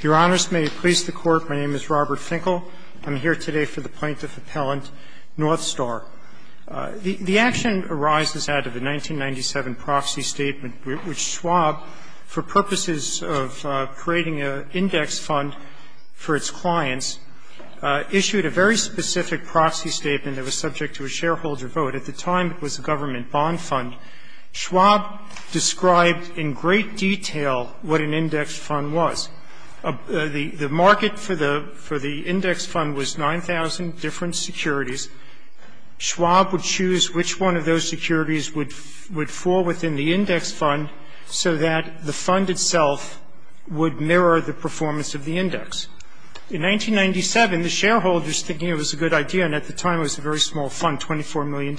Your Honors, may it please the Court, my name is Robert Finkel. I'm here today for the Plaintiff Appellant Northstar. The action arises out of a 1997 proxy statement which Schwab, for purposes of creating an index fund for its clients, issued a very specific proxy statement that was subject to a shareholder vote. At the time it was a government bond fund. Schwab described in great detail what an index fund was. The market for the index fund was 9,000 different securities. Schwab would choose which one of those securities would fall within the index fund so that the fund itself would mirror the performance of the index. In 1997, the shareholders, thinking it was a good idea, and at the time it was a very small fund, $24 million,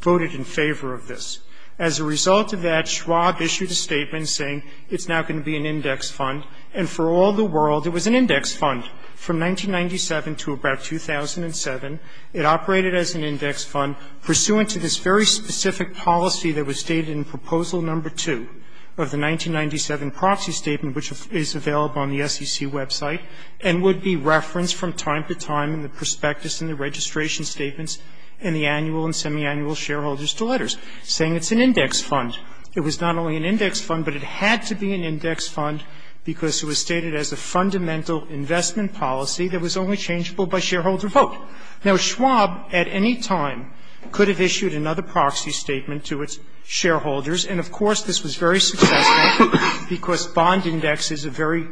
voted in favor of this. As a result of that, Schwab issued a statement saying it's now going to be an index fund. And for all the world, it was an index fund from 1997 to about 2007. It operated as an index fund pursuant to this very specific policy that was stated in Proposal No. 2 of the 1997 proxy statement, which is available on the SEC website and would be referenced from time to time in the prospectus and the registration statements and the annual and semiannual shareholders to letters, saying it's an index fund. It was not only an index fund, but it had to be an index fund because it was stated as a fundamental investment policy that was only changeable by shareholder vote. Now, Schwab at any time could have issued another proxy statement to its shareholders, and, of course, this was very successful because bond indexes are very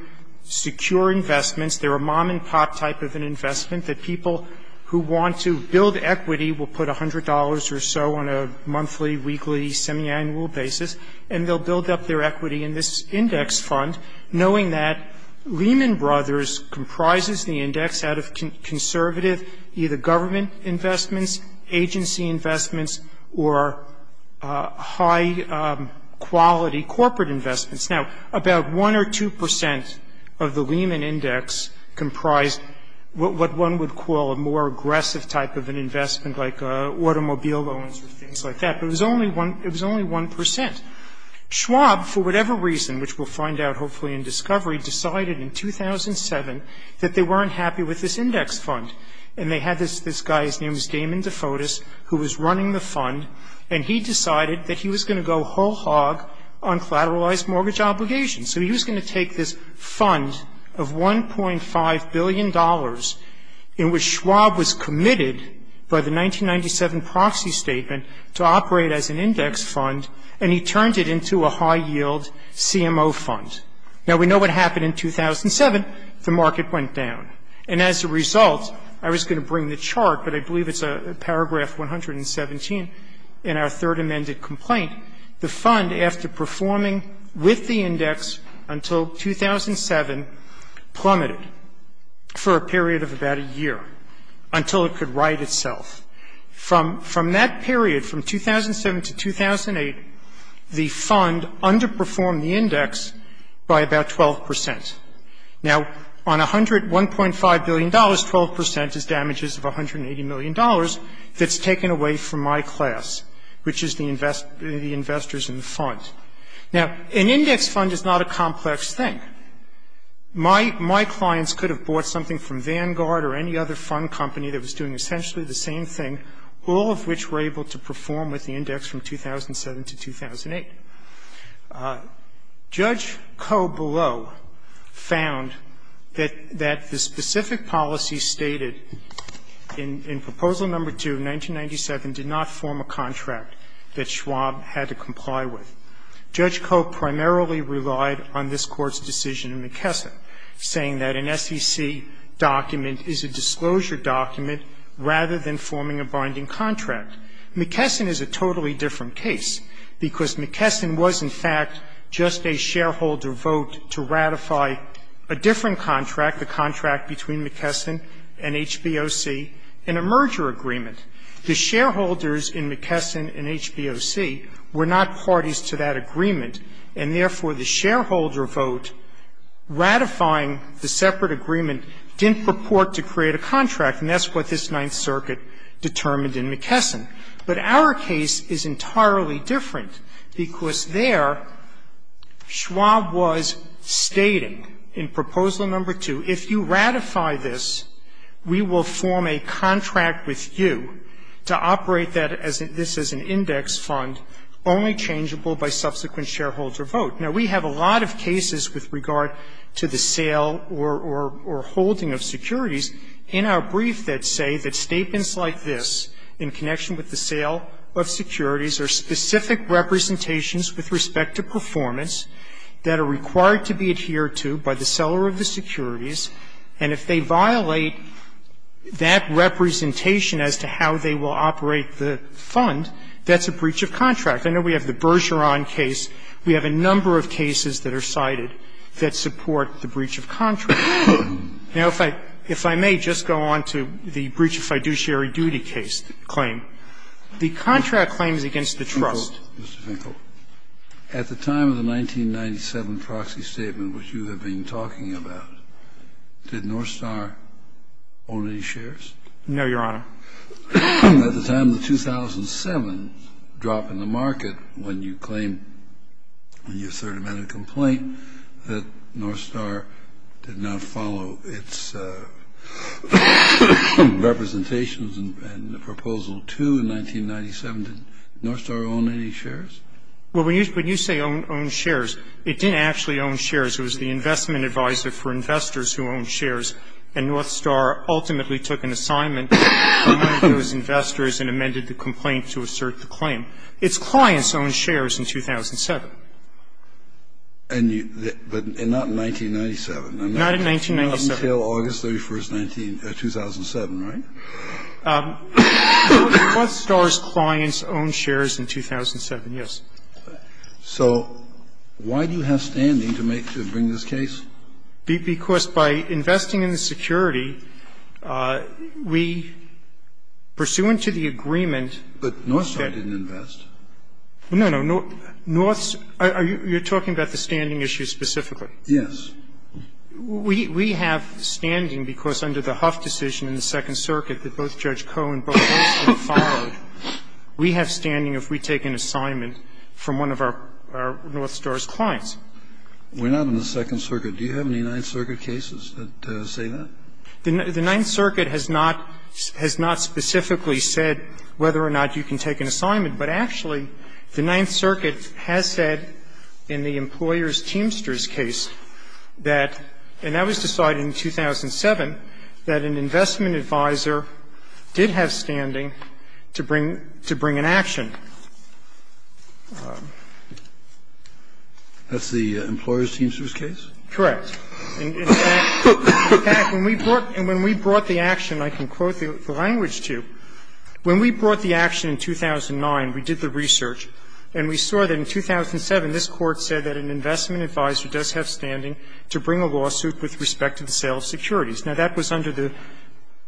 secure investments. They're a mom-and-pop type of an investment that people who want to build equity will put $100 or so on a monthly, weekly, semiannual basis, and they'll build up their equity in this index fund, knowing that Lehman Brothers comprises the index out of conservative either government investments, agency investments, or high-quality corporate investments. Now, about 1 or 2 percent of the Lehman Index comprised what one would call a more aggressive type of an investment, like automobile loans or things like that. But it was only 1 percent. Schwab, for whatever reason, which we'll find out hopefully in discovery, decided in 2007 that they weren't happy with this index fund. And they had this guy, his name was Damon DeFotis, who was running the fund, and he decided that he was going to go whole hog on collateralized mortgage obligations. So he was going to take this fund of $1.5 billion in which Schwab was committed by the 1997 proxy statement to operate as an index fund, and he turned it into a high-yield CMO fund. Now, we know what happened in 2007. The market went down. And as a result, I was going to bring the chart, but I believe it's paragraph 117 in our third amended complaint, the fund, after performing with the index until 2007, plummeted for a period of about a year until it could right itself. From that period, from 2007 to 2008, the fund underperformed the index by about 12 percent. Now, on $1.5 billion, 12 percent is damages of $180 million that's taken away from my class, which is the investors in the fund. Now, an index fund is not a complex thing. My clients could have bought something from Vanguard or any other fund company that was doing essentially the same thing, all of which were able to perform with the index from 2007 to 2008. Judge Coe, below, found that the specific policy stated in Proposal No. 2 of 1997 did not form a contract that Schwab had to comply with. Judge Coe primarily relied on this Court's decision in McKesson, saying that an SEC document is a disclosure document rather than forming a binding contract. McKesson is a totally different case, because McKesson was, in fact, just a shareholder vote to ratify a different contract, the contract between McKesson and HBOC in a merger agreement. The shareholders in McKesson and HBOC were not parties to that agreement, and therefore, the shareholder vote ratifying the separate agreement didn't purport to create a contract, and that's what this Ninth Circuit determined in McKesson. But our case is entirely different, because there, Schwab was stating in Proposal No. 2, if you ratify this, we will form a contract with you to operate that as an index fund only changeable by subsequent shareholder vote. Now, we have a lot of cases with regard to the sale or holding of securities in our brief that say that statements like this, in connection with the sale of securities, are specific representations with respect to performance that are required to be adhered to by the seller of the securities, and if they violate that representation as to how they will operate the fund, that's a breach of contract. I know we have the Bergeron case. We have a number of cases that are cited that support the breach of contract. Now, if I may just go on to the breach of fiduciary duty case claim. The contract claim is against the trust. Kennedy, Mr. Finkel, at the time of the 1997 proxy statement which you have been talking about, did Northstar own any shares? No, Your Honor. At the time of the 2007 drop in the market when you claim, when you asserted a matter of complaint, that Northstar did not follow its representations and the proposal 2 in 1997, did Northstar own any shares? Well, when you say own shares, it didn't actually own shares. It was the investment advisor for investors who owned shares, and Northstar ultimately took an assignment to those investors and amended the complaint to assert the claim. Its clients owned shares in 2007. And you – but not in 1997. Not in 1997. Not until August 31st, 2007, right? Northstar's clients owned shares in 2007, yes. So why do you have standing to make – to bring this case? Because by investing in the security, we, pursuant to the agreement that – But Northstar didn't invest. No, no. Northstar – you're talking about the standing issue specifically? Yes. We have standing because under the Huff decision in the Second Circuit that both Judge Koh and both Northstar followed, we have standing if we take an assignment from one of our Northstar's clients. We're not in the Second Circuit. Do you have any Ninth Circuit cases that say that? The Ninth Circuit has not – has not specifically said whether or not you can take an assignment. But actually, the Ninth Circuit has said in the employer's Teamsters case that – and that was decided in 2007 – that an investment advisor did have standing to bring – to bring an action. That's the employer's Teamsters case? Correct. In fact, when we brought – and when we brought the action, I can quote the language to, when we brought the action in 2009, we did the research, and we saw that in 2007, this Court said that an investment advisor does have standing to bring a lawsuit with respect to the sale of securities. Now, that was under the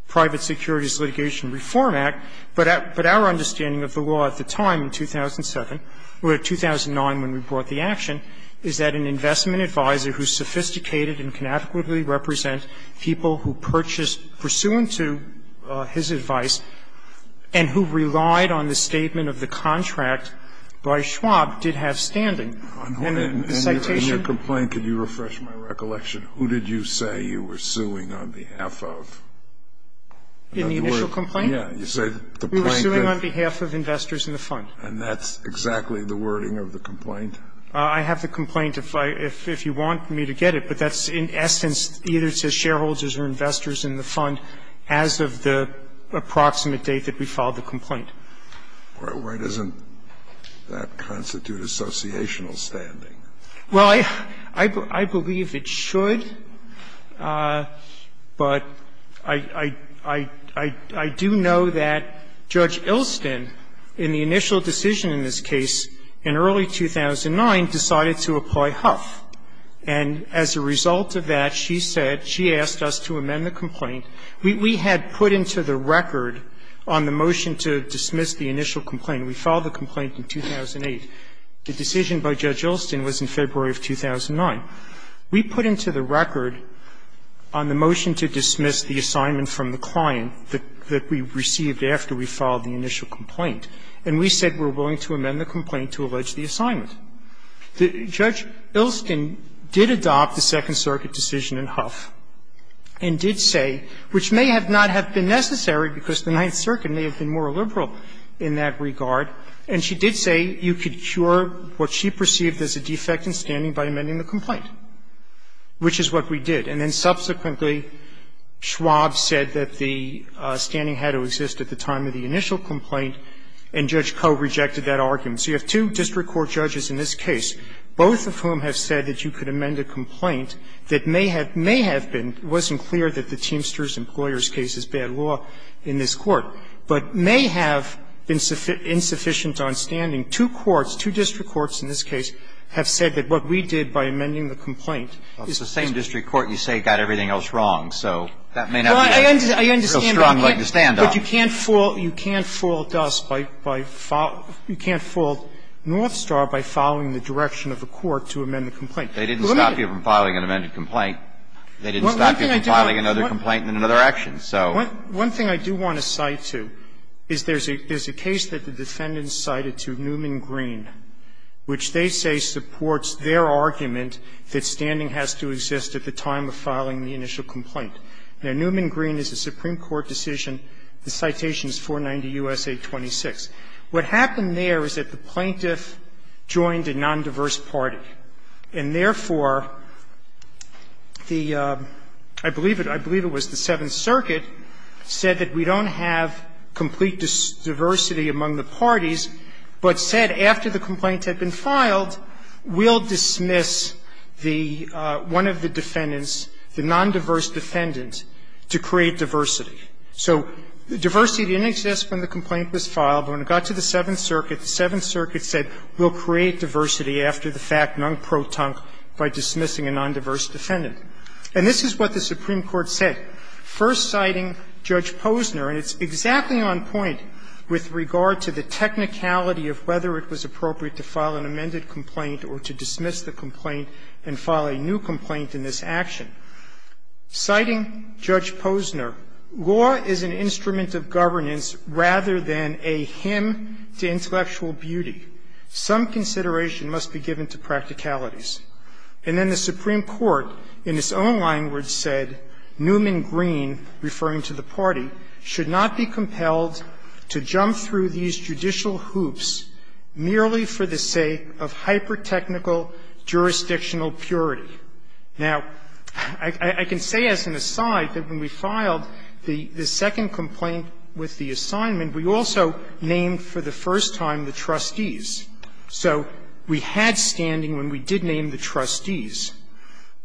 Private Securities Litigation Reform Act, but our understanding of the law at the time, in 2007, or 2009 when we brought the action, is that an investment advisor who's sophisticated and can adequately represent people who purchase pursuant to his advice and who relied on the statement of the contract by Schwab did have standing. And the citation – And in your complaint, can you refresh my recollection? Who did you say you were suing on behalf of? In the initial complaint? You said the plaintiff – I'm suing on behalf of investors in the fund. And that's exactly the wording of the complaint? I have the complaint, if you want me to get it. But that's in essence either to shareholders or investors in the fund as of the approximate date that we filed the complaint. Why doesn't that constitute associational standing? Well, I believe it should, but I do know that Judge Ilston, in the initial decision in this case in early 2009, decided to apply Huff. And as a result of that, she said – she asked us to amend the complaint. We had put into the record on the motion to dismiss the initial complaint. We filed the complaint in 2008. The decision by Judge Ilston was in February of 2009. We put into the record on the motion to dismiss the assignment from the client that we received after we filed the initial complaint. And we said we're willing to amend the complaint to allege the assignment. Judge Ilston did adopt the Second Circuit decision in Huff and did say – which may not have been necessary because the Ninth Circuit may have been more liberal in that regard – and she did say you could cure what she perceived as a defect in standing by amending the complaint, which is what we did. And then subsequently, Schwab said that the standing had to exist at the time of the initial complaint, and Judge Koh rejected that argument. So you have two district court judges in this case, both of whom have said that you could amend a complaint that may have been – it wasn't clear that the Teamsters case is bad law in this court, but may have been insufficient on standing. Two courts, two district courts in this case, have said that what we did by amending the complaint is – Well, it's the same district court you say got everything else wrong. So that may not be – Well, I understand that. But you can't fool us by – you can't fool Northstar by following the direction of the court to amend the complaint. They didn't stop you from filing an amended complaint. They didn't stop you from filing another complaint and another complaint. They didn't stop you from filing another action. So – One thing I do want to cite, too, is there's a case that the defendants cited to Newman Green, which they say supports their argument that standing has to exist at the time of filing the initial complaint. Now, Newman Green is a Supreme Court decision. The citation is 490 U.S.A. 26. What happened there is that the plaintiff joined a nondiverse party, and therefore the – I believe it was the Seventh Circuit said that we don't have complete diversity among the parties, but said after the complaint had been filed, we'll dismiss the – one of the defendants, the nondiverse defendant, to create diversity. So diversity didn't exist when the complaint was filed. But when it got to the Seventh Circuit, the Seventh Circuit said we'll create diversity after the fact, non-pro-tunk, by dismissing a nondiverse defendant. And this is what the Supreme Court said, first citing Judge Posner. And it's exactly on point with regard to the technicality of whether it was appropriate to file an amended complaint or to dismiss the complaint and file a new complaint in this action. Citing Judge Posner, law is an instrument of governance rather than a hymn to intellectual beauty. Some consideration must be given to practicalities. And then the Supreme Court, in its own language, said Newman Green, referring to the party, should not be compelled to jump through these judicial hoops merely for the sake of hyper-technical jurisdictional purity. Now, I can say as an aside that when we filed the second complaint with the assignment, named for the first time the trustees. So we had standing when we did name the trustees.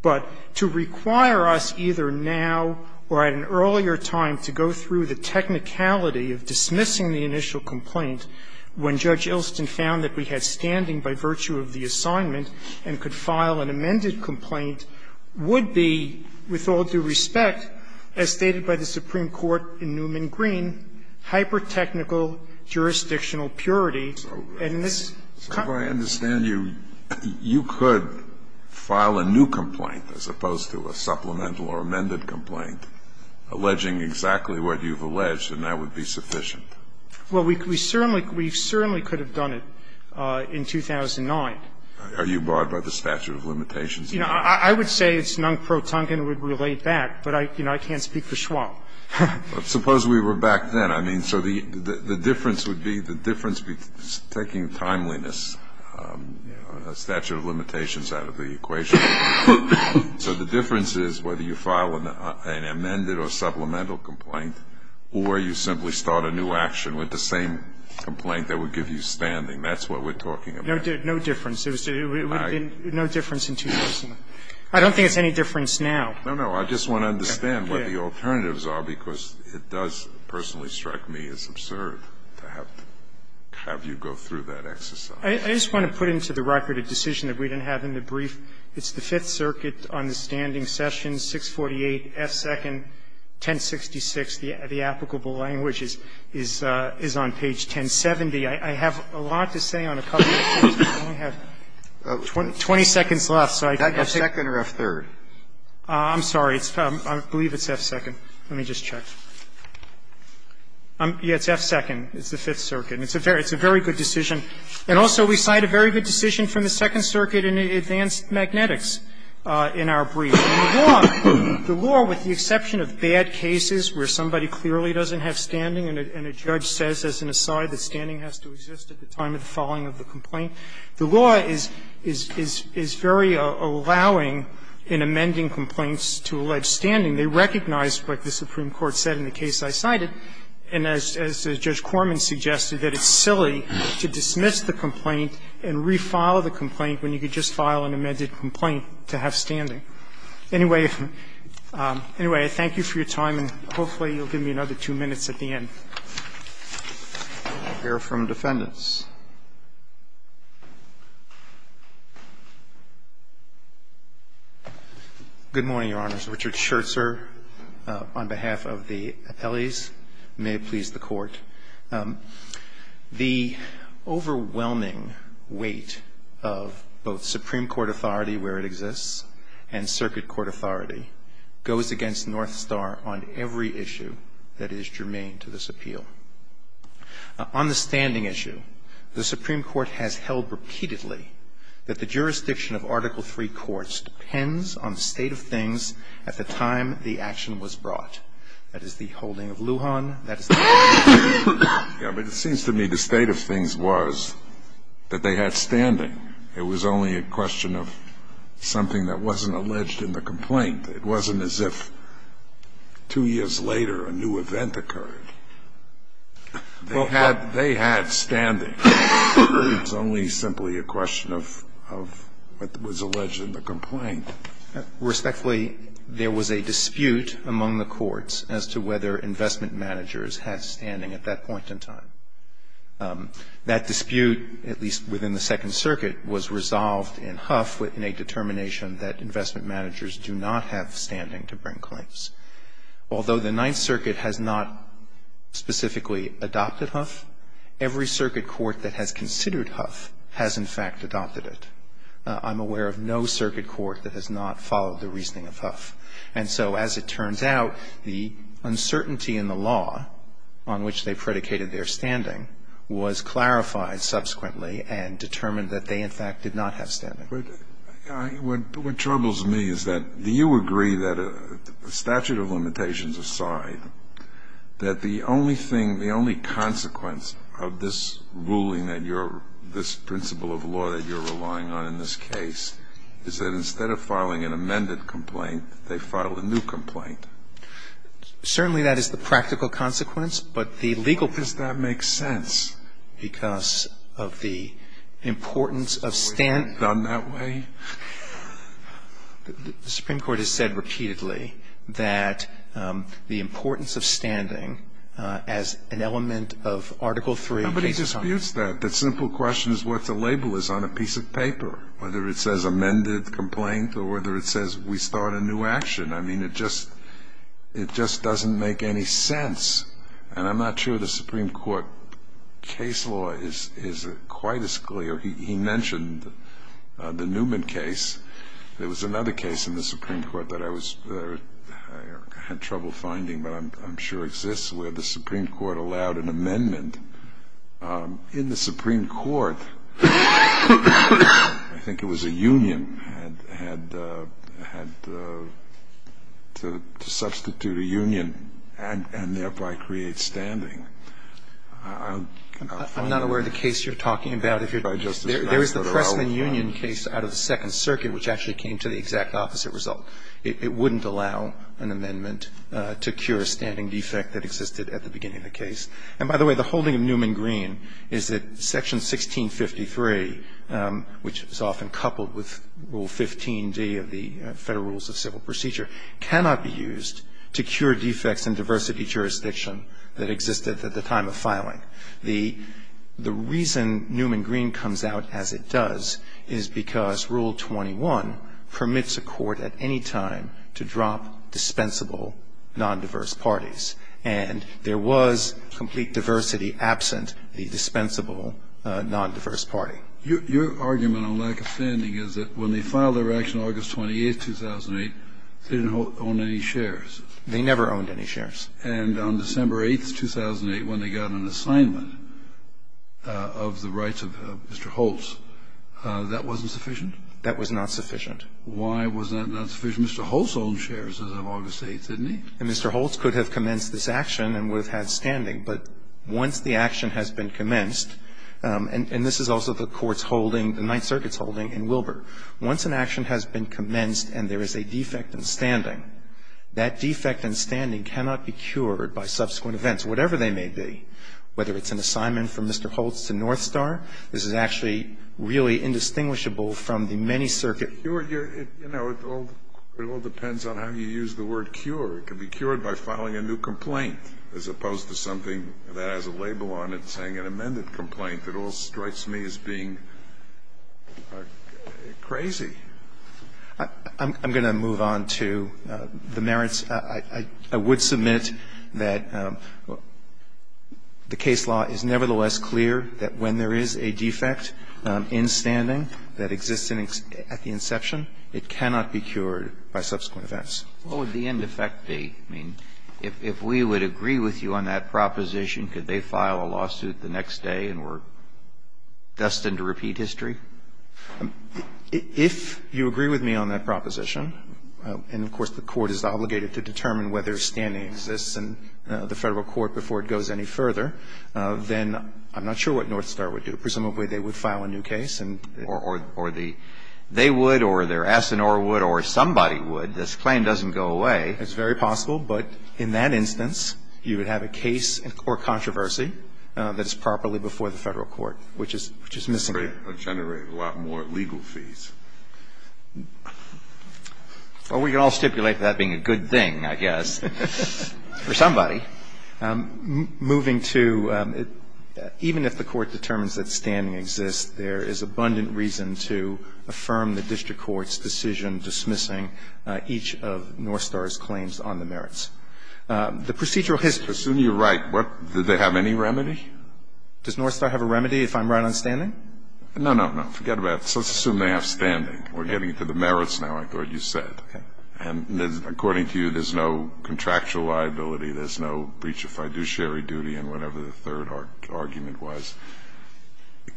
But to require us either now or at an earlier time to go through the technicality of dismissing the initial complaint when Judge Ilston found that we had standing by virtue of the assignment and could file an amended complaint would be, with all due respect, as stated by the Supreme Court in Newman Green, hyper-technical jurisdictional purity and this. So if I understand you, you could file a new complaint as opposed to a supplemental or amended complaint alleging exactly what you've alleged, and that would be sufficient? Well, we certainly could have done it in 2009. Are you barred by the statute of limitations? You know, I would say it's non-protungent and would relate that, but I can't speak for Schwab. Suppose we were back then. I mean, so the difference would be the difference between taking timeliness, you know, a statute of limitations out of the equation. So the difference is whether you file an amended or supplemental complaint or you simply start a new action with the same complaint that would give you standing. That's what we're talking about. No difference. No difference in 2009. I don't think it's any difference now. No, no. I just want to understand what the alternatives are, because it does personally strike me as absurd to have you go through that exercise. I just want to put into the record a decision that we didn't have in the brief. It's the Fifth Circuit on the standing session, 648 F. 2nd, 1066. The applicable language is on page 1070. I have a lot to say on a couple of things, but I only have 20 seconds left. So I think that's it. That's F. 2nd or F. 3rd? I'm sorry. I believe it's F. 2nd. Let me just check. Yes, it's F. 2nd. It's the Fifth Circuit. It's a very good decision. And also we cite a very good decision from the Second Circuit in Advanced Magnetics in our brief. The law, with the exception of bad cases where somebody clearly doesn't have standing and a judge says as an aside that standing has to exist at the time of the filing of the complaint, the law is very allowing in amending complaints to allege standing. They recognize what the Supreme Court said in the case I cited, and as Judge Corman suggested, that it's silly to dismiss the complaint and refile the complaint when you could just file an amended complaint to have standing. Anyway, thank you for your time, and hopefully you'll give me another two minutes at the end. We'll hear from defendants. Good morning, Your Honors. Richard Scherzer on behalf of the appellees. May it please the Court. The overwhelming weight of both Supreme Court authority where it exists and Circuit Court authority goes against North Star on every issue that is germane to this appeal. On the standing issue, the Supreme Court has held repeatedly that the jurisdiction of Article III courts depends on the state of things at the time the action was brought. That is the holding of Lujan. That is the holding of the Supreme Court. Yeah, but it seems to me the state of things was that they had standing. It was only a question of something that wasn't alleged in the complaint. It wasn't as if two years later a new event occurred. They had standing. It was only simply a question of what was alleged in the complaint. Respectfully, there was a dispute among the courts as to whether investment managers had standing at that point in time. That dispute, at least within the Second Circuit, was resolved in Huff in a determination that investment managers do not have standing to bring claims. Although the Ninth Circuit has not specifically adopted Huff, every circuit court that has considered Huff has, in fact, adopted it. I'm aware of no circuit court that has not followed the reasoning of Huff. And so as it turns out, the uncertainty in the law on which they predicated their standing was clarified subsequently and determined that they, in fact, did not have standing. What troubles me is that, do you agree that a statute of limitations aside, that the only thing, the only consequence of this ruling that you're, this principle of law that you're relying on in this case, is that instead of filing an amended complaint, they file a new complaint? Certainly that is the practical consequence, but the legal... Does that make sense? Because of the importance of standing... The Supreme Court has said repeatedly that the importance of standing as an element of Article III... Nobody disputes that. The simple question is what the label is on a piece of paper, whether it says amended complaint or whether it says we start a new action. I mean, it just doesn't make any sense. And I'm not sure the Supreme Court case law is quite as clear. He mentioned the Newman case. There was another case in the Supreme Court that I had trouble finding, but I'm sure exists, where the Supreme Court allowed an amendment. In the Supreme Court, I think it was a union had to substitute a union and thereby create standing. I'm not aware of the case you're talking about. There is the Pressman Union case out of the Second Circuit, which actually came to the exact opposite result. It wouldn't allow an amendment to cure a standing defect that existed at the beginning of the case. And by the way, the holding of Newman Green is that Section 1653, which is often coupled with Rule 15d of the Federal Rules of Civil Procedure, cannot be used to cure defects in diversity jurisdiction that existed at the time of filing. The reason Newman Green comes out as it does is because Rule 21 permits a court at any time to drop dispensable non-diverse parties. And there was complete diversity absent the dispensable non-diverse party. Your argument on lack of standing is that when they filed their action August 28, 2008, they didn't own any shares. They never owned any shares. And on December 8, 2008, when they got an assignment of the rights of Mr. Holtz, that wasn't sufficient? That was not sufficient. Why was that not sufficient? Mr. Holtz owned shares as of August 8, didn't he? Mr. Holtz could have commenced this action and would have had standing. But once the action has been commenced, and this is also the court's holding, the Ninth Circuit's holding in Wilbur. Once an action has been commenced and there is a defect in standing, that defect in standing cannot be cured by subsequent events, whatever they may be. Whether it's an assignment from Mr. Holtz to Northstar, this is actually really indistinguishable from the many circuits. It all depends on how you use the word cure. It can be cured by filing a new complaint as opposed to something that has a label on it saying an amended complaint. It all strikes me as being crazy. I'm going to move on to the merits. I would submit that the case law is nevertheless clear that when there is a defect in standing that exists at the inception, it cannot be cured by subsequent events. What would the end effect be? I mean, if we would agree with you on that proposition, could they file a lawsuit the next day and we're destined to repeat history? If you agree with me on that proposition, and of course the Court is obligated to determine whether standing exists in the Federal Court before it goes any further, then I'm not sure what Northstar would do. Presumably they would file a new case. Or the they would or their S&R would or somebody would. This claim doesn't go away. It's very possible, but in that instance, you would have a case or controversy that is properly before the Federal Court, which is missing here. And that would generate a lot more legal fees. Well, we can all stipulate that being a good thing, I guess, for somebody. Moving to even if the Court determines that standing exists, there is abundant reason to affirm the District Court's decision dismissing each of Northstar's claims on the merits. The procedural history. Assuming you're right, what, did they have any remedy? Does Northstar have a remedy if I'm right on standing? No, no, no. Forget about it. Let's assume they have standing. We're getting to the merits now, I thought you said. Okay. And according to you, there's no contractual liability. There's no breach of fiduciary duty and whatever the third argument was.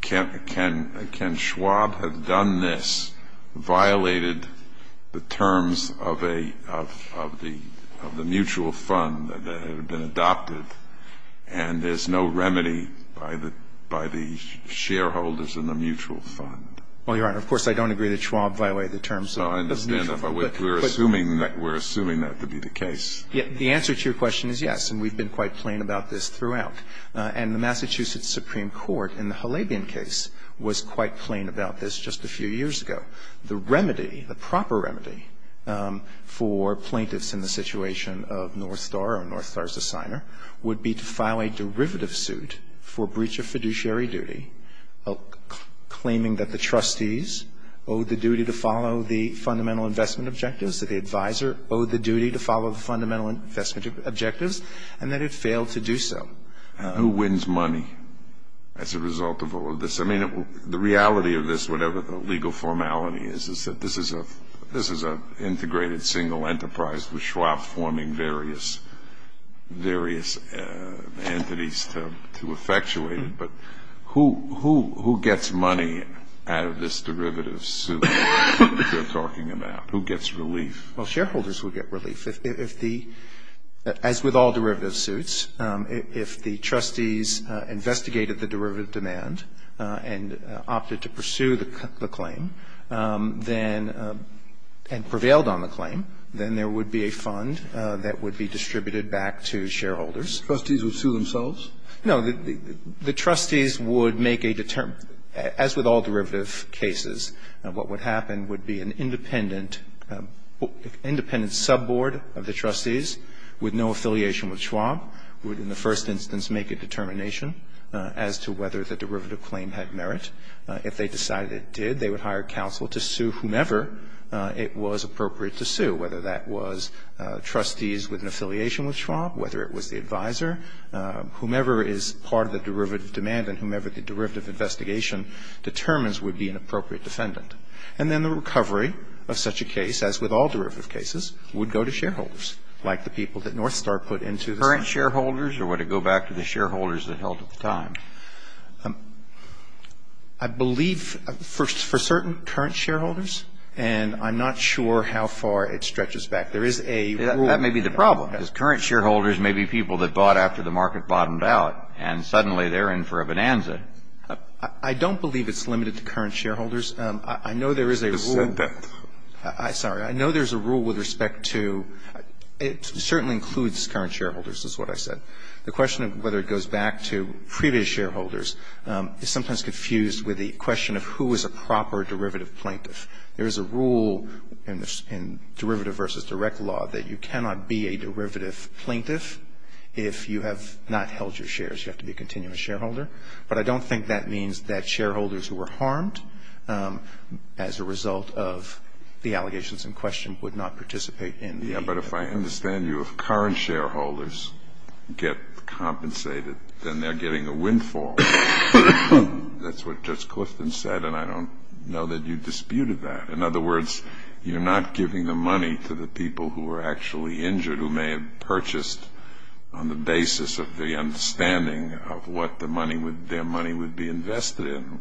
Can Schwab have done this, violated the terms of the mutual fund that had been adopted, and there's no remedy by the shareholders in the mutual fund? Well, Your Honor, of course I don't agree that Schwab violated the terms of the mutual fund. No, I understand that, but we're assuming that to be the case. The answer to your question is yes, and we've been quite plain about this throughout. And the Massachusetts Supreme Court in the Halabian case was quite plain about this just a few years ago. The remedy, the proper remedy for plaintiffs in the situation of Northstar would be to file a derivative suit for breach of fiduciary duty claiming that the trustees owed the duty to follow the fundamental investment objectives, that the advisor owed the duty to follow the fundamental investment objectives, and that it failed to do so. Who wins money as a result of all of this? I mean, the reality of this, whatever the legal formality is, is that this is an integrated single enterprise with Schwab forming various entities to effectuate it. But who gets money out of this derivative suit that you're talking about? Who gets relief? Well, shareholders will get relief. As with all derivative suits, if the trustees investigated the derivative demand and opted to pursue the claim and prevailed on the claim, then there would be a fund that would be distributed back to shareholders. Trustees would sue themselves? No. The trustees would make a determination. As with all derivative cases, what would happen would be an independent sub-board of the trustees with no affiliation with Schwab would in the first instance make a determination as to whether the derivative claim had merit. If they decided it did, they would hire counsel to sue whomever it was appropriate to sue, whether that was trustees with an affiliation with Schwab, whether it was the advisor. Whomever is part of the derivative demand and whomever the derivative investigation determines would be an appropriate defendant. And then the recovery of such a case, as with all derivative cases, would go to shareholders like the people that Northstar put into this. Current shareholders or would it go back to the shareholders that held at the time? I believe for certain current shareholders. And I'm not sure how far it stretches back. There is a rule. That may be the problem. Because current shareholders may be people that bought after the market bottomed out and suddenly they're in for a bonanza. I don't believe it's limited to current shareholders. I know there is a rule with respect to – it certainly includes current shareholders, is what I said. The question of whether it goes back to previous shareholders is sometimes confused with the question of who is a proper derivative plaintiff. There is a rule in derivative versus direct law that you cannot be a derivative plaintiff if you have not held your shares. You have to be a continuous shareholder. But I don't think that means that shareholders who were harmed as a result of the allegations in question would not participate in the plaintiff. But if I understand you, if current shareholders get compensated, then they're getting a windfall. That's what Judge Clifton said and I don't know that you disputed that. In other words, you're not giving the money to the people who were actually injured who may have purchased on the basis of the understanding of what their money would be invested in.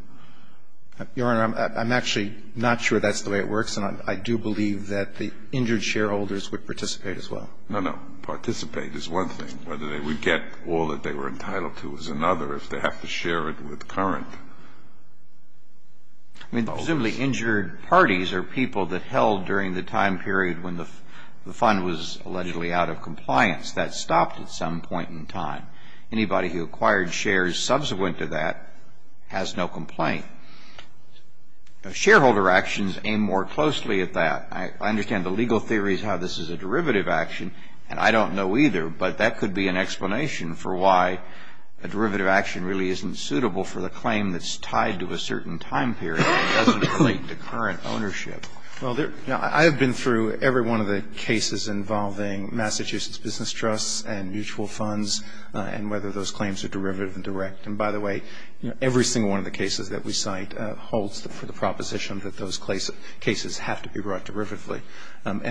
Your Honor, I'm actually not sure that's the way it works. I do believe that the injured shareholders would participate as well. No, no. Participate is one thing. Whether they would get all that they were entitled to is another if they have to share it with current holders. Presumably injured parties are people that held during the time period when the fund was allegedly out of compliance. That stopped at some point in time. Anybody who acquired shares subsequent to that has no complaint. Shareholder actions aim more closely at that. I understand the legal theory is how this is a derivative action and I don't know either, but that could be an explanation for why a derivative action really isn't suitable for the claim that's tied to a certain time period and doesn't relate to current ownership. I have been through every one of the cases involving Massachusetts Business Trusts and mutual funds and whether those claims are derivative and direct. By the way, every single one of the cases that we cite holds for the proposition that those cases have to be brought derivatively. In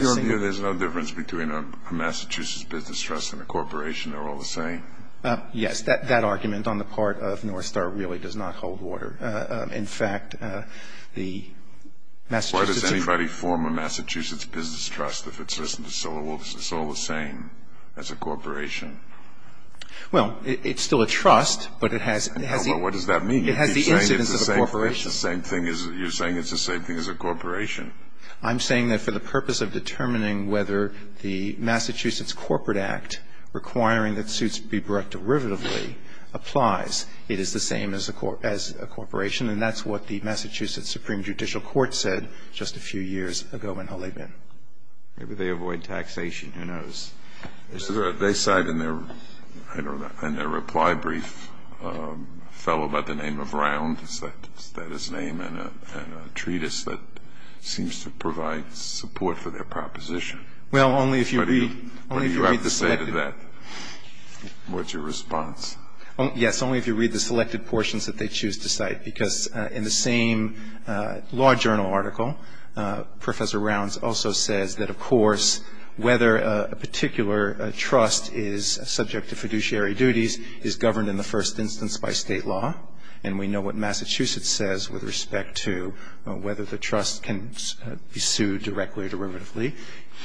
your view, there's no difference between a Massachusetts Business Trust and a corporation? They're all the same? Yes. That argument on the part of North Star really does not hold water. In fact, the Massachusetts- Why does anybody form a Massachusetts Business Trust if it's just all the same as a corporation? Well, it's still a trust, but it has the- Well, what does that mean? It has the incidence of a corporation. You're saying it's the same thing as a corporation. I'm saying that for the purpose of determining whether the Massachusetts Corporate Act requiring that suits be brought derivatively applies, it is the same as a corporation and that's what the Massachusetts Supreme Judicial Court said just a few years ago in Holleybin. Maybe they avoid taxation. Who knows? They cite in their reply brief a fellow by the name of Round. Is that his name? And a treatise that seems to provide support for their proposition. Well, only if you read- You have to say that. What's your response? Yes, only if you read the selected portions that they choose to cite because a particular trust is subject to fiduciary duties is governed in the first instance by state law and we know what Massachusetts says with respect to whether the trust can be sued directly or derivatively.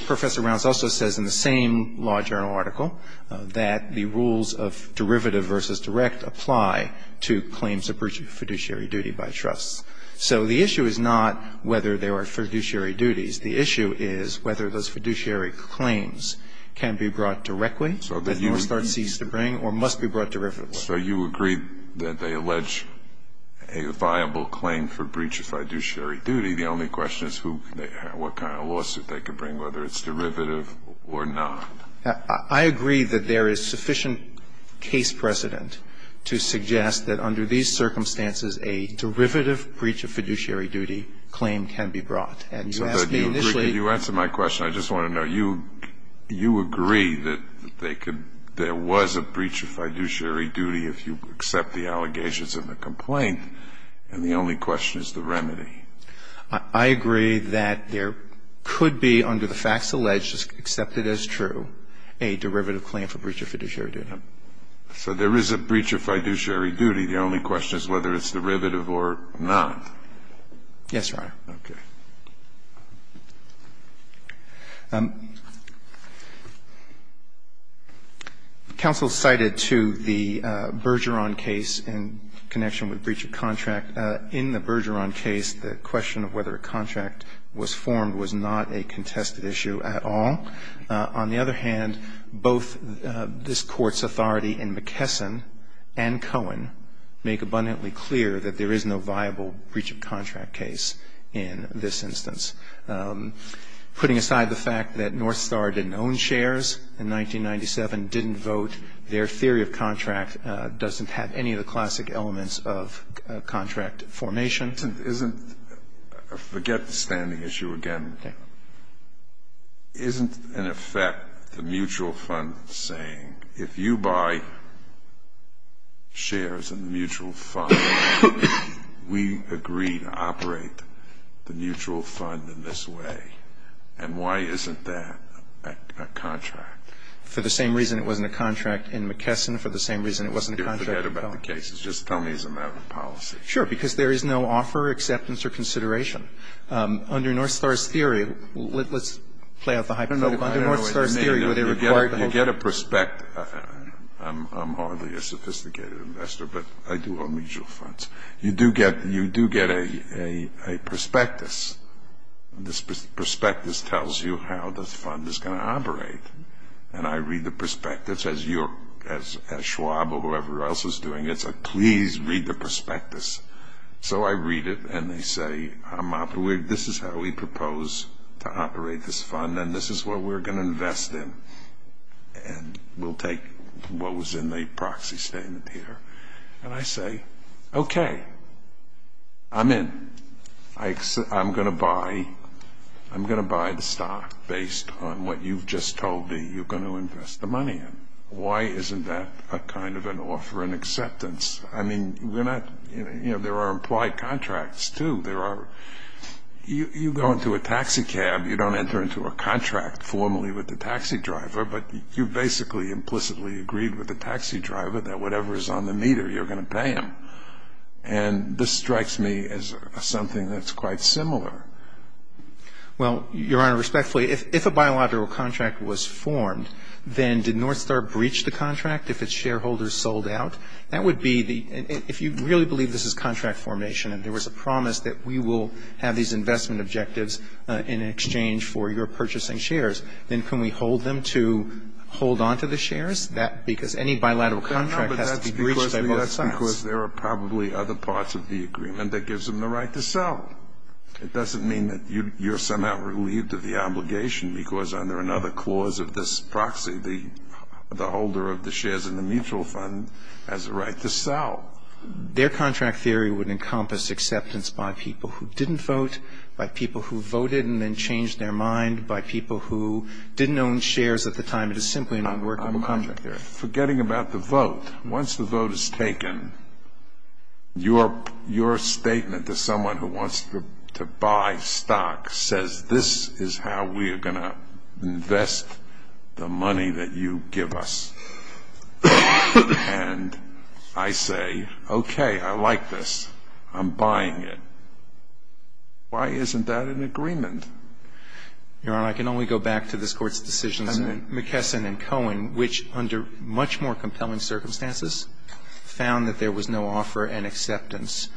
Professor Rounds also says in the same law journal article that the rules of derivative versus direct apply to claims of fiduciary duty by trusts. So the issue is not whether there are fiduciary duties. The issue is whether those fiduciary claims can be brought directly and then start cease to bring or must be brought derivatively. So you agree that they allege a viable claim for breach of fiduciary duty. The only question is what kind of lawsuit they can bring, whether it's derivative or not. I agree that there is sufficient case precedent to suggest that under these circumstances a derivative breach of fiduciary duty claim can be brought. You answered my question. I just want to know. You agree that there was a breach of fiduciary duty if you accept the allegations of the complaint and the only question is the remedy. I agree that there could be under the facts alleged, accepted as true, a derivative claim for breach of fiduciary duty. So there is a breach of fiduciary duty. Yes, Your Honor. Okay. Counsel cited to the Bergeron case in connection with breach of contract. In the Bergeron case, the question of whether a contract was formed was not a contested issue at all. On the other hand, both this Court's authority in McKesson and Cohen make abundantly clear that there is no viable breach of contract case in this instance. Putting aside the fact that North Star didn't own shares in 1997, didn't vote, their theory of contract doesn't have any of the classic elements of contract formation. Isn't, forget the standing issue again, isn't in effect the mutual fund saying, if you buy shares in the mutual fund, we agree to operate the mutual fund in this way? And why isn't that a contract? For the same reason it wasn't a contract in McKesson, for the same reason it wasn't a contract in Cohen. Forget about the cases. Just tell me as a matter of policy. Sure, because there is no offer, acceptance, or consideration. Under North Star's theory, let's play out the hypothetical. I don't know what you mean. You get a prospect. I'm hardly a sophisticated investor, but I do own mutual funds. You do get a prospectus. This prospectus tells you how this fund is going to operate. And I read the prospectus, as Schwab or whoever else is doing it, says, please read the prospectus. So I read it, and they say, this is how we propose to operate this fund, and this is what we're going to invest in. And we'll take what was in the proxy statement here. And I say, okay, I'm in. I'm going to buy the stock based on what you've just told me you're going to invest the money in. Why isn't that a kind of an offer and acceptance? I mean, there are implied contracts, too. You go into a taxicab. You don't enter into a contract formally with the taxi driver, but you basically implicitly agreed with the taxi driver that whatever is on the meter, you're going to pay him. And this strikes me as something that's quite similar. Well, Your Honor, respectfully, if a bilateral contract was formed, then did North Star breach the contract if its shareholders sold out? That would be the – if you really believe this is contract formation and there was a promise that we will have these investment objectives in exchange for your purchasing shares, then can we hold them to hold on to the shares? That – because any bilateral contract has to be breached by both sides. No, but that's because there are probably other parts of the agreement that gives them the right to sell. It doesn't mean that you're somehow relieved of the obligation because under another clause of this proxy, the holder of the shares in the mutual fund has a right to sell. Their contract theory would encompass acceptance by people who didn't vote, by people who voted and then changed their mind, by people who didn't own shares at the time. It is simply a non-workable contract theory. I'm forgetting about the vote. Once the vote is taken, your statement to someone who wants to buy stock says this is how we are going to invest the money that you give us. And I say, okay, I like this. I'm buying it. Why isn't that an agreement? Your Honor, I can only go back to this Court's decisions in McKesson and Cohen which under much more compelling circumstances found that there was no offer and acceptance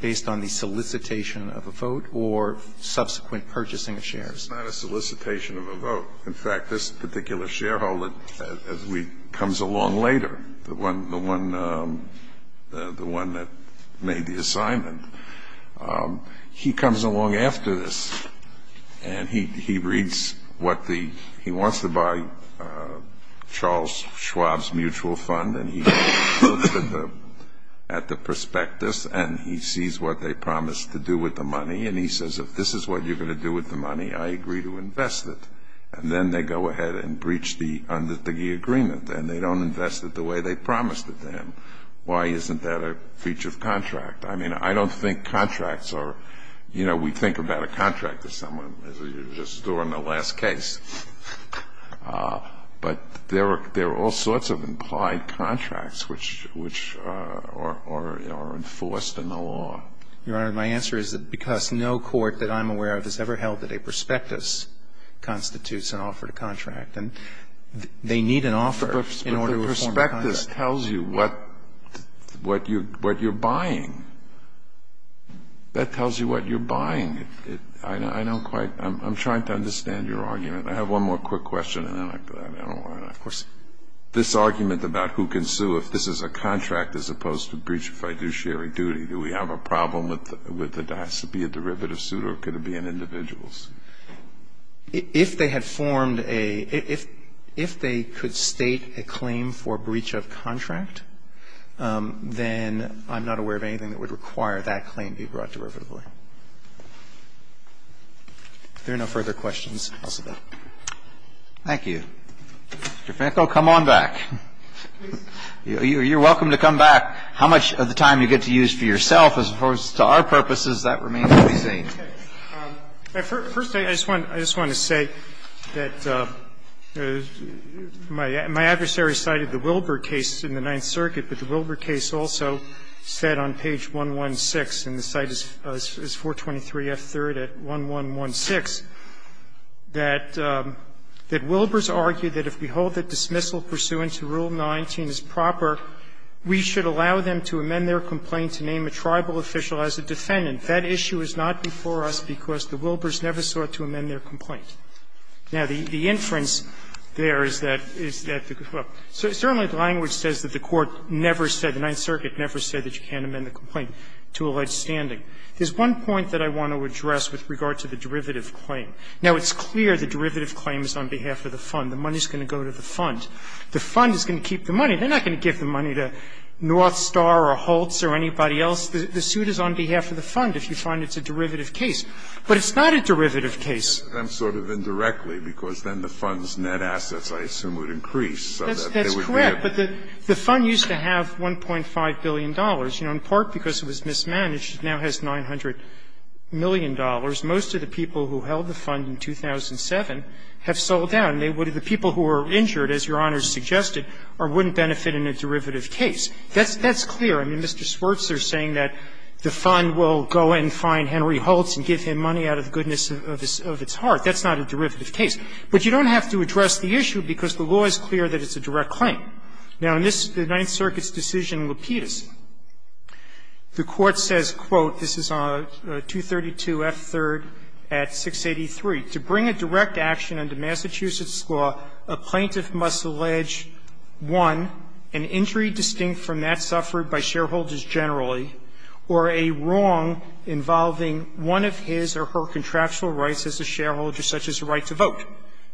based on the solicitation of a vote or subsequent purchasing of shares. It's not a solicitation of a vote. In fact, this particular shareholder comes along later, the one that made the assignment. He comes along after this and he reads what the he wants to buy Charles Schwab's mutual fund and he looks at the prospectus and he sees what they promised to do with the money and he says if this is what you're going to do with the money, I agree to invest it. And then they go ahead and breach the under the agreement and they don't invest it the way they promised it to him. Why isn't that a breach of contract? I mean, I don't think contracts are, you know, we think about a contract to someone as if you're just storing the last case. But there are all sorts of implied contracts which are enforced in the law. Your Honor, my answer is that because no court that I'm aware of constitutes an offer to contract. And they need an offer in order to perform a contract. But the prospectus tells you what you're buying. That tells you what you're buying. I don't quite, I'm trying to understand your argument. I have one more quick question and then I don't want to, of course. This argument about who can sue if this is a contract as opposed to breach of fiduciary duty, do we have a problem with it has to be a derivative suit or could it be an individual's? If they had formed a, if they could state a claim for breach of contract, then I'm not aware of anything that would require that claim be brought derivatively. If there are no further questions, I'll stop. Thank you. Mr. Finkel, come on back. You're welcome to come back. How much of the time you get to use for yourself, as opposed to our purposes, that remains to be seen. First, I just want to say that my adversary cited the Wilbur case in the Ninth Circuit, but the Wilbur case also said on page 116, and the site is 423F3rd at 1116, that Wilburs argued that if we hold that dismissal pursuant to Rule 19 is proper, we should allow them to amend their complaint to name a tribal official as a defendant. That issue is not before us because the Wilburs never sought to amend their complaint. Now, the inference there is that, is that, well, certainly the language says that the Court never said, the Ninth Circuit never said that you can't amend the complaint to alleged standing. There's one point that I want to address with regard to the derivative claim. Now, it's clear the derivative claim is on behalf of the fund. The money is going to go to the fund. The fund is going to keep the money. They're not going to give the money to North Star or Holtz or anybody else. The suit is on behalf of the fund if you find it's a derivative case. But it's not a derivative case. Scalia, I'm sort of indirectly because then the fund's net assets, I assume, would increase so that they would be able to. That's correct. But the fund used to have $1.5 billion. In part because it was mismanaged, it now has $900 million. Most of the people who held the fund in 2007 have sold down. The people who were injured, as Your Honor suggested, wouldn't benefit in a derivative case. That's clear. I mean, Mr. Swertz is saying that the fund will go and find Henry Holtz and give him money out of the goodness of its heart. That's not a derivative case. But you don't have to address the issue because the law is clear that it's a direct claim. Now, in this, the Ninth Circuit's decision in Lapidus, the Court says, quote, this is on 232F3 at 683,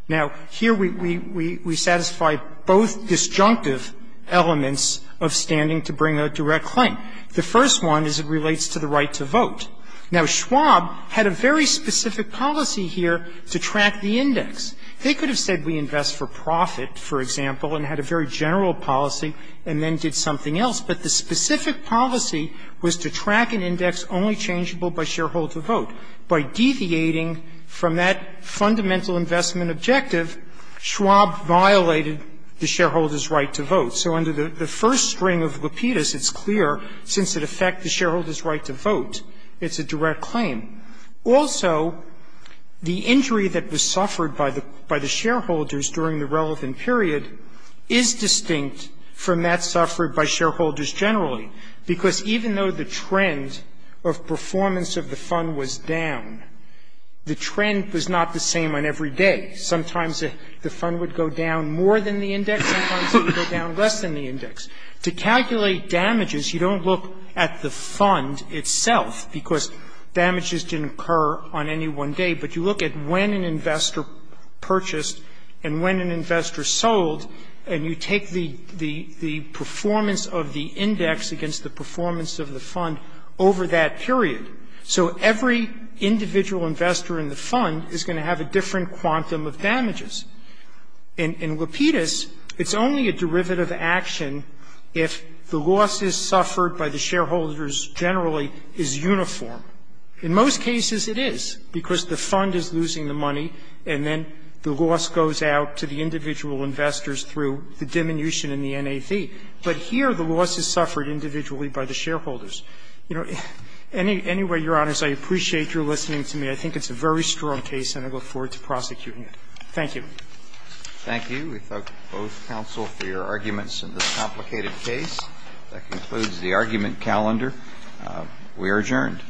Now, here we satisfy both disjunctive elements of standing to bring a direct claim. The first one is it relates to the right to vote. Now, Schwab had a very specific policy here to track the index. They could have said we invest for profit, for example, and had a very general policy and then did something else. But the specific policy was to track an index only changeable by shareholder vote. By deviating from that fundamental investment objective, Schwab violated the shareholder's right to vote. So under the first string of Lapidus, it's clear, since it affects the shareholder's right to vote, it's a direct claim. Also, the injury that was suffered by the shareholders during the relevant period is distinct from that suffered by shareholders generally. Because even though the trend of performance of the fund was down, the trend was not the same on every day. Sometimes the fund would go down more than the index. Sometimes it would go down less than the index. To calculate damages, you don't look at the fund itself because damages didn't occur on any one day. But you look at when an investor purchased and when an investor sold, and you take the performance of the index against the performance of the fund over that period. So every individual investor in the fund is going to have a different quantum of damages. In Lapidus, it's only a derivative action if the losses suffered by the shareholders generally is uniform. In most cases, it is, because the fund is losing the money, and then the loss goes out to the individual investors through the diminution in the NAV. But here, the loss is suffered individually by the shareholders. Anyway, Your Honors, I appreciate your listening to me. I think it's a very strong case, and I look forward to prosecuting it. Thank you. Thank you. We thank both counsel for your arguments in this complicated case. That concludes the argument calendar. We are adjourned.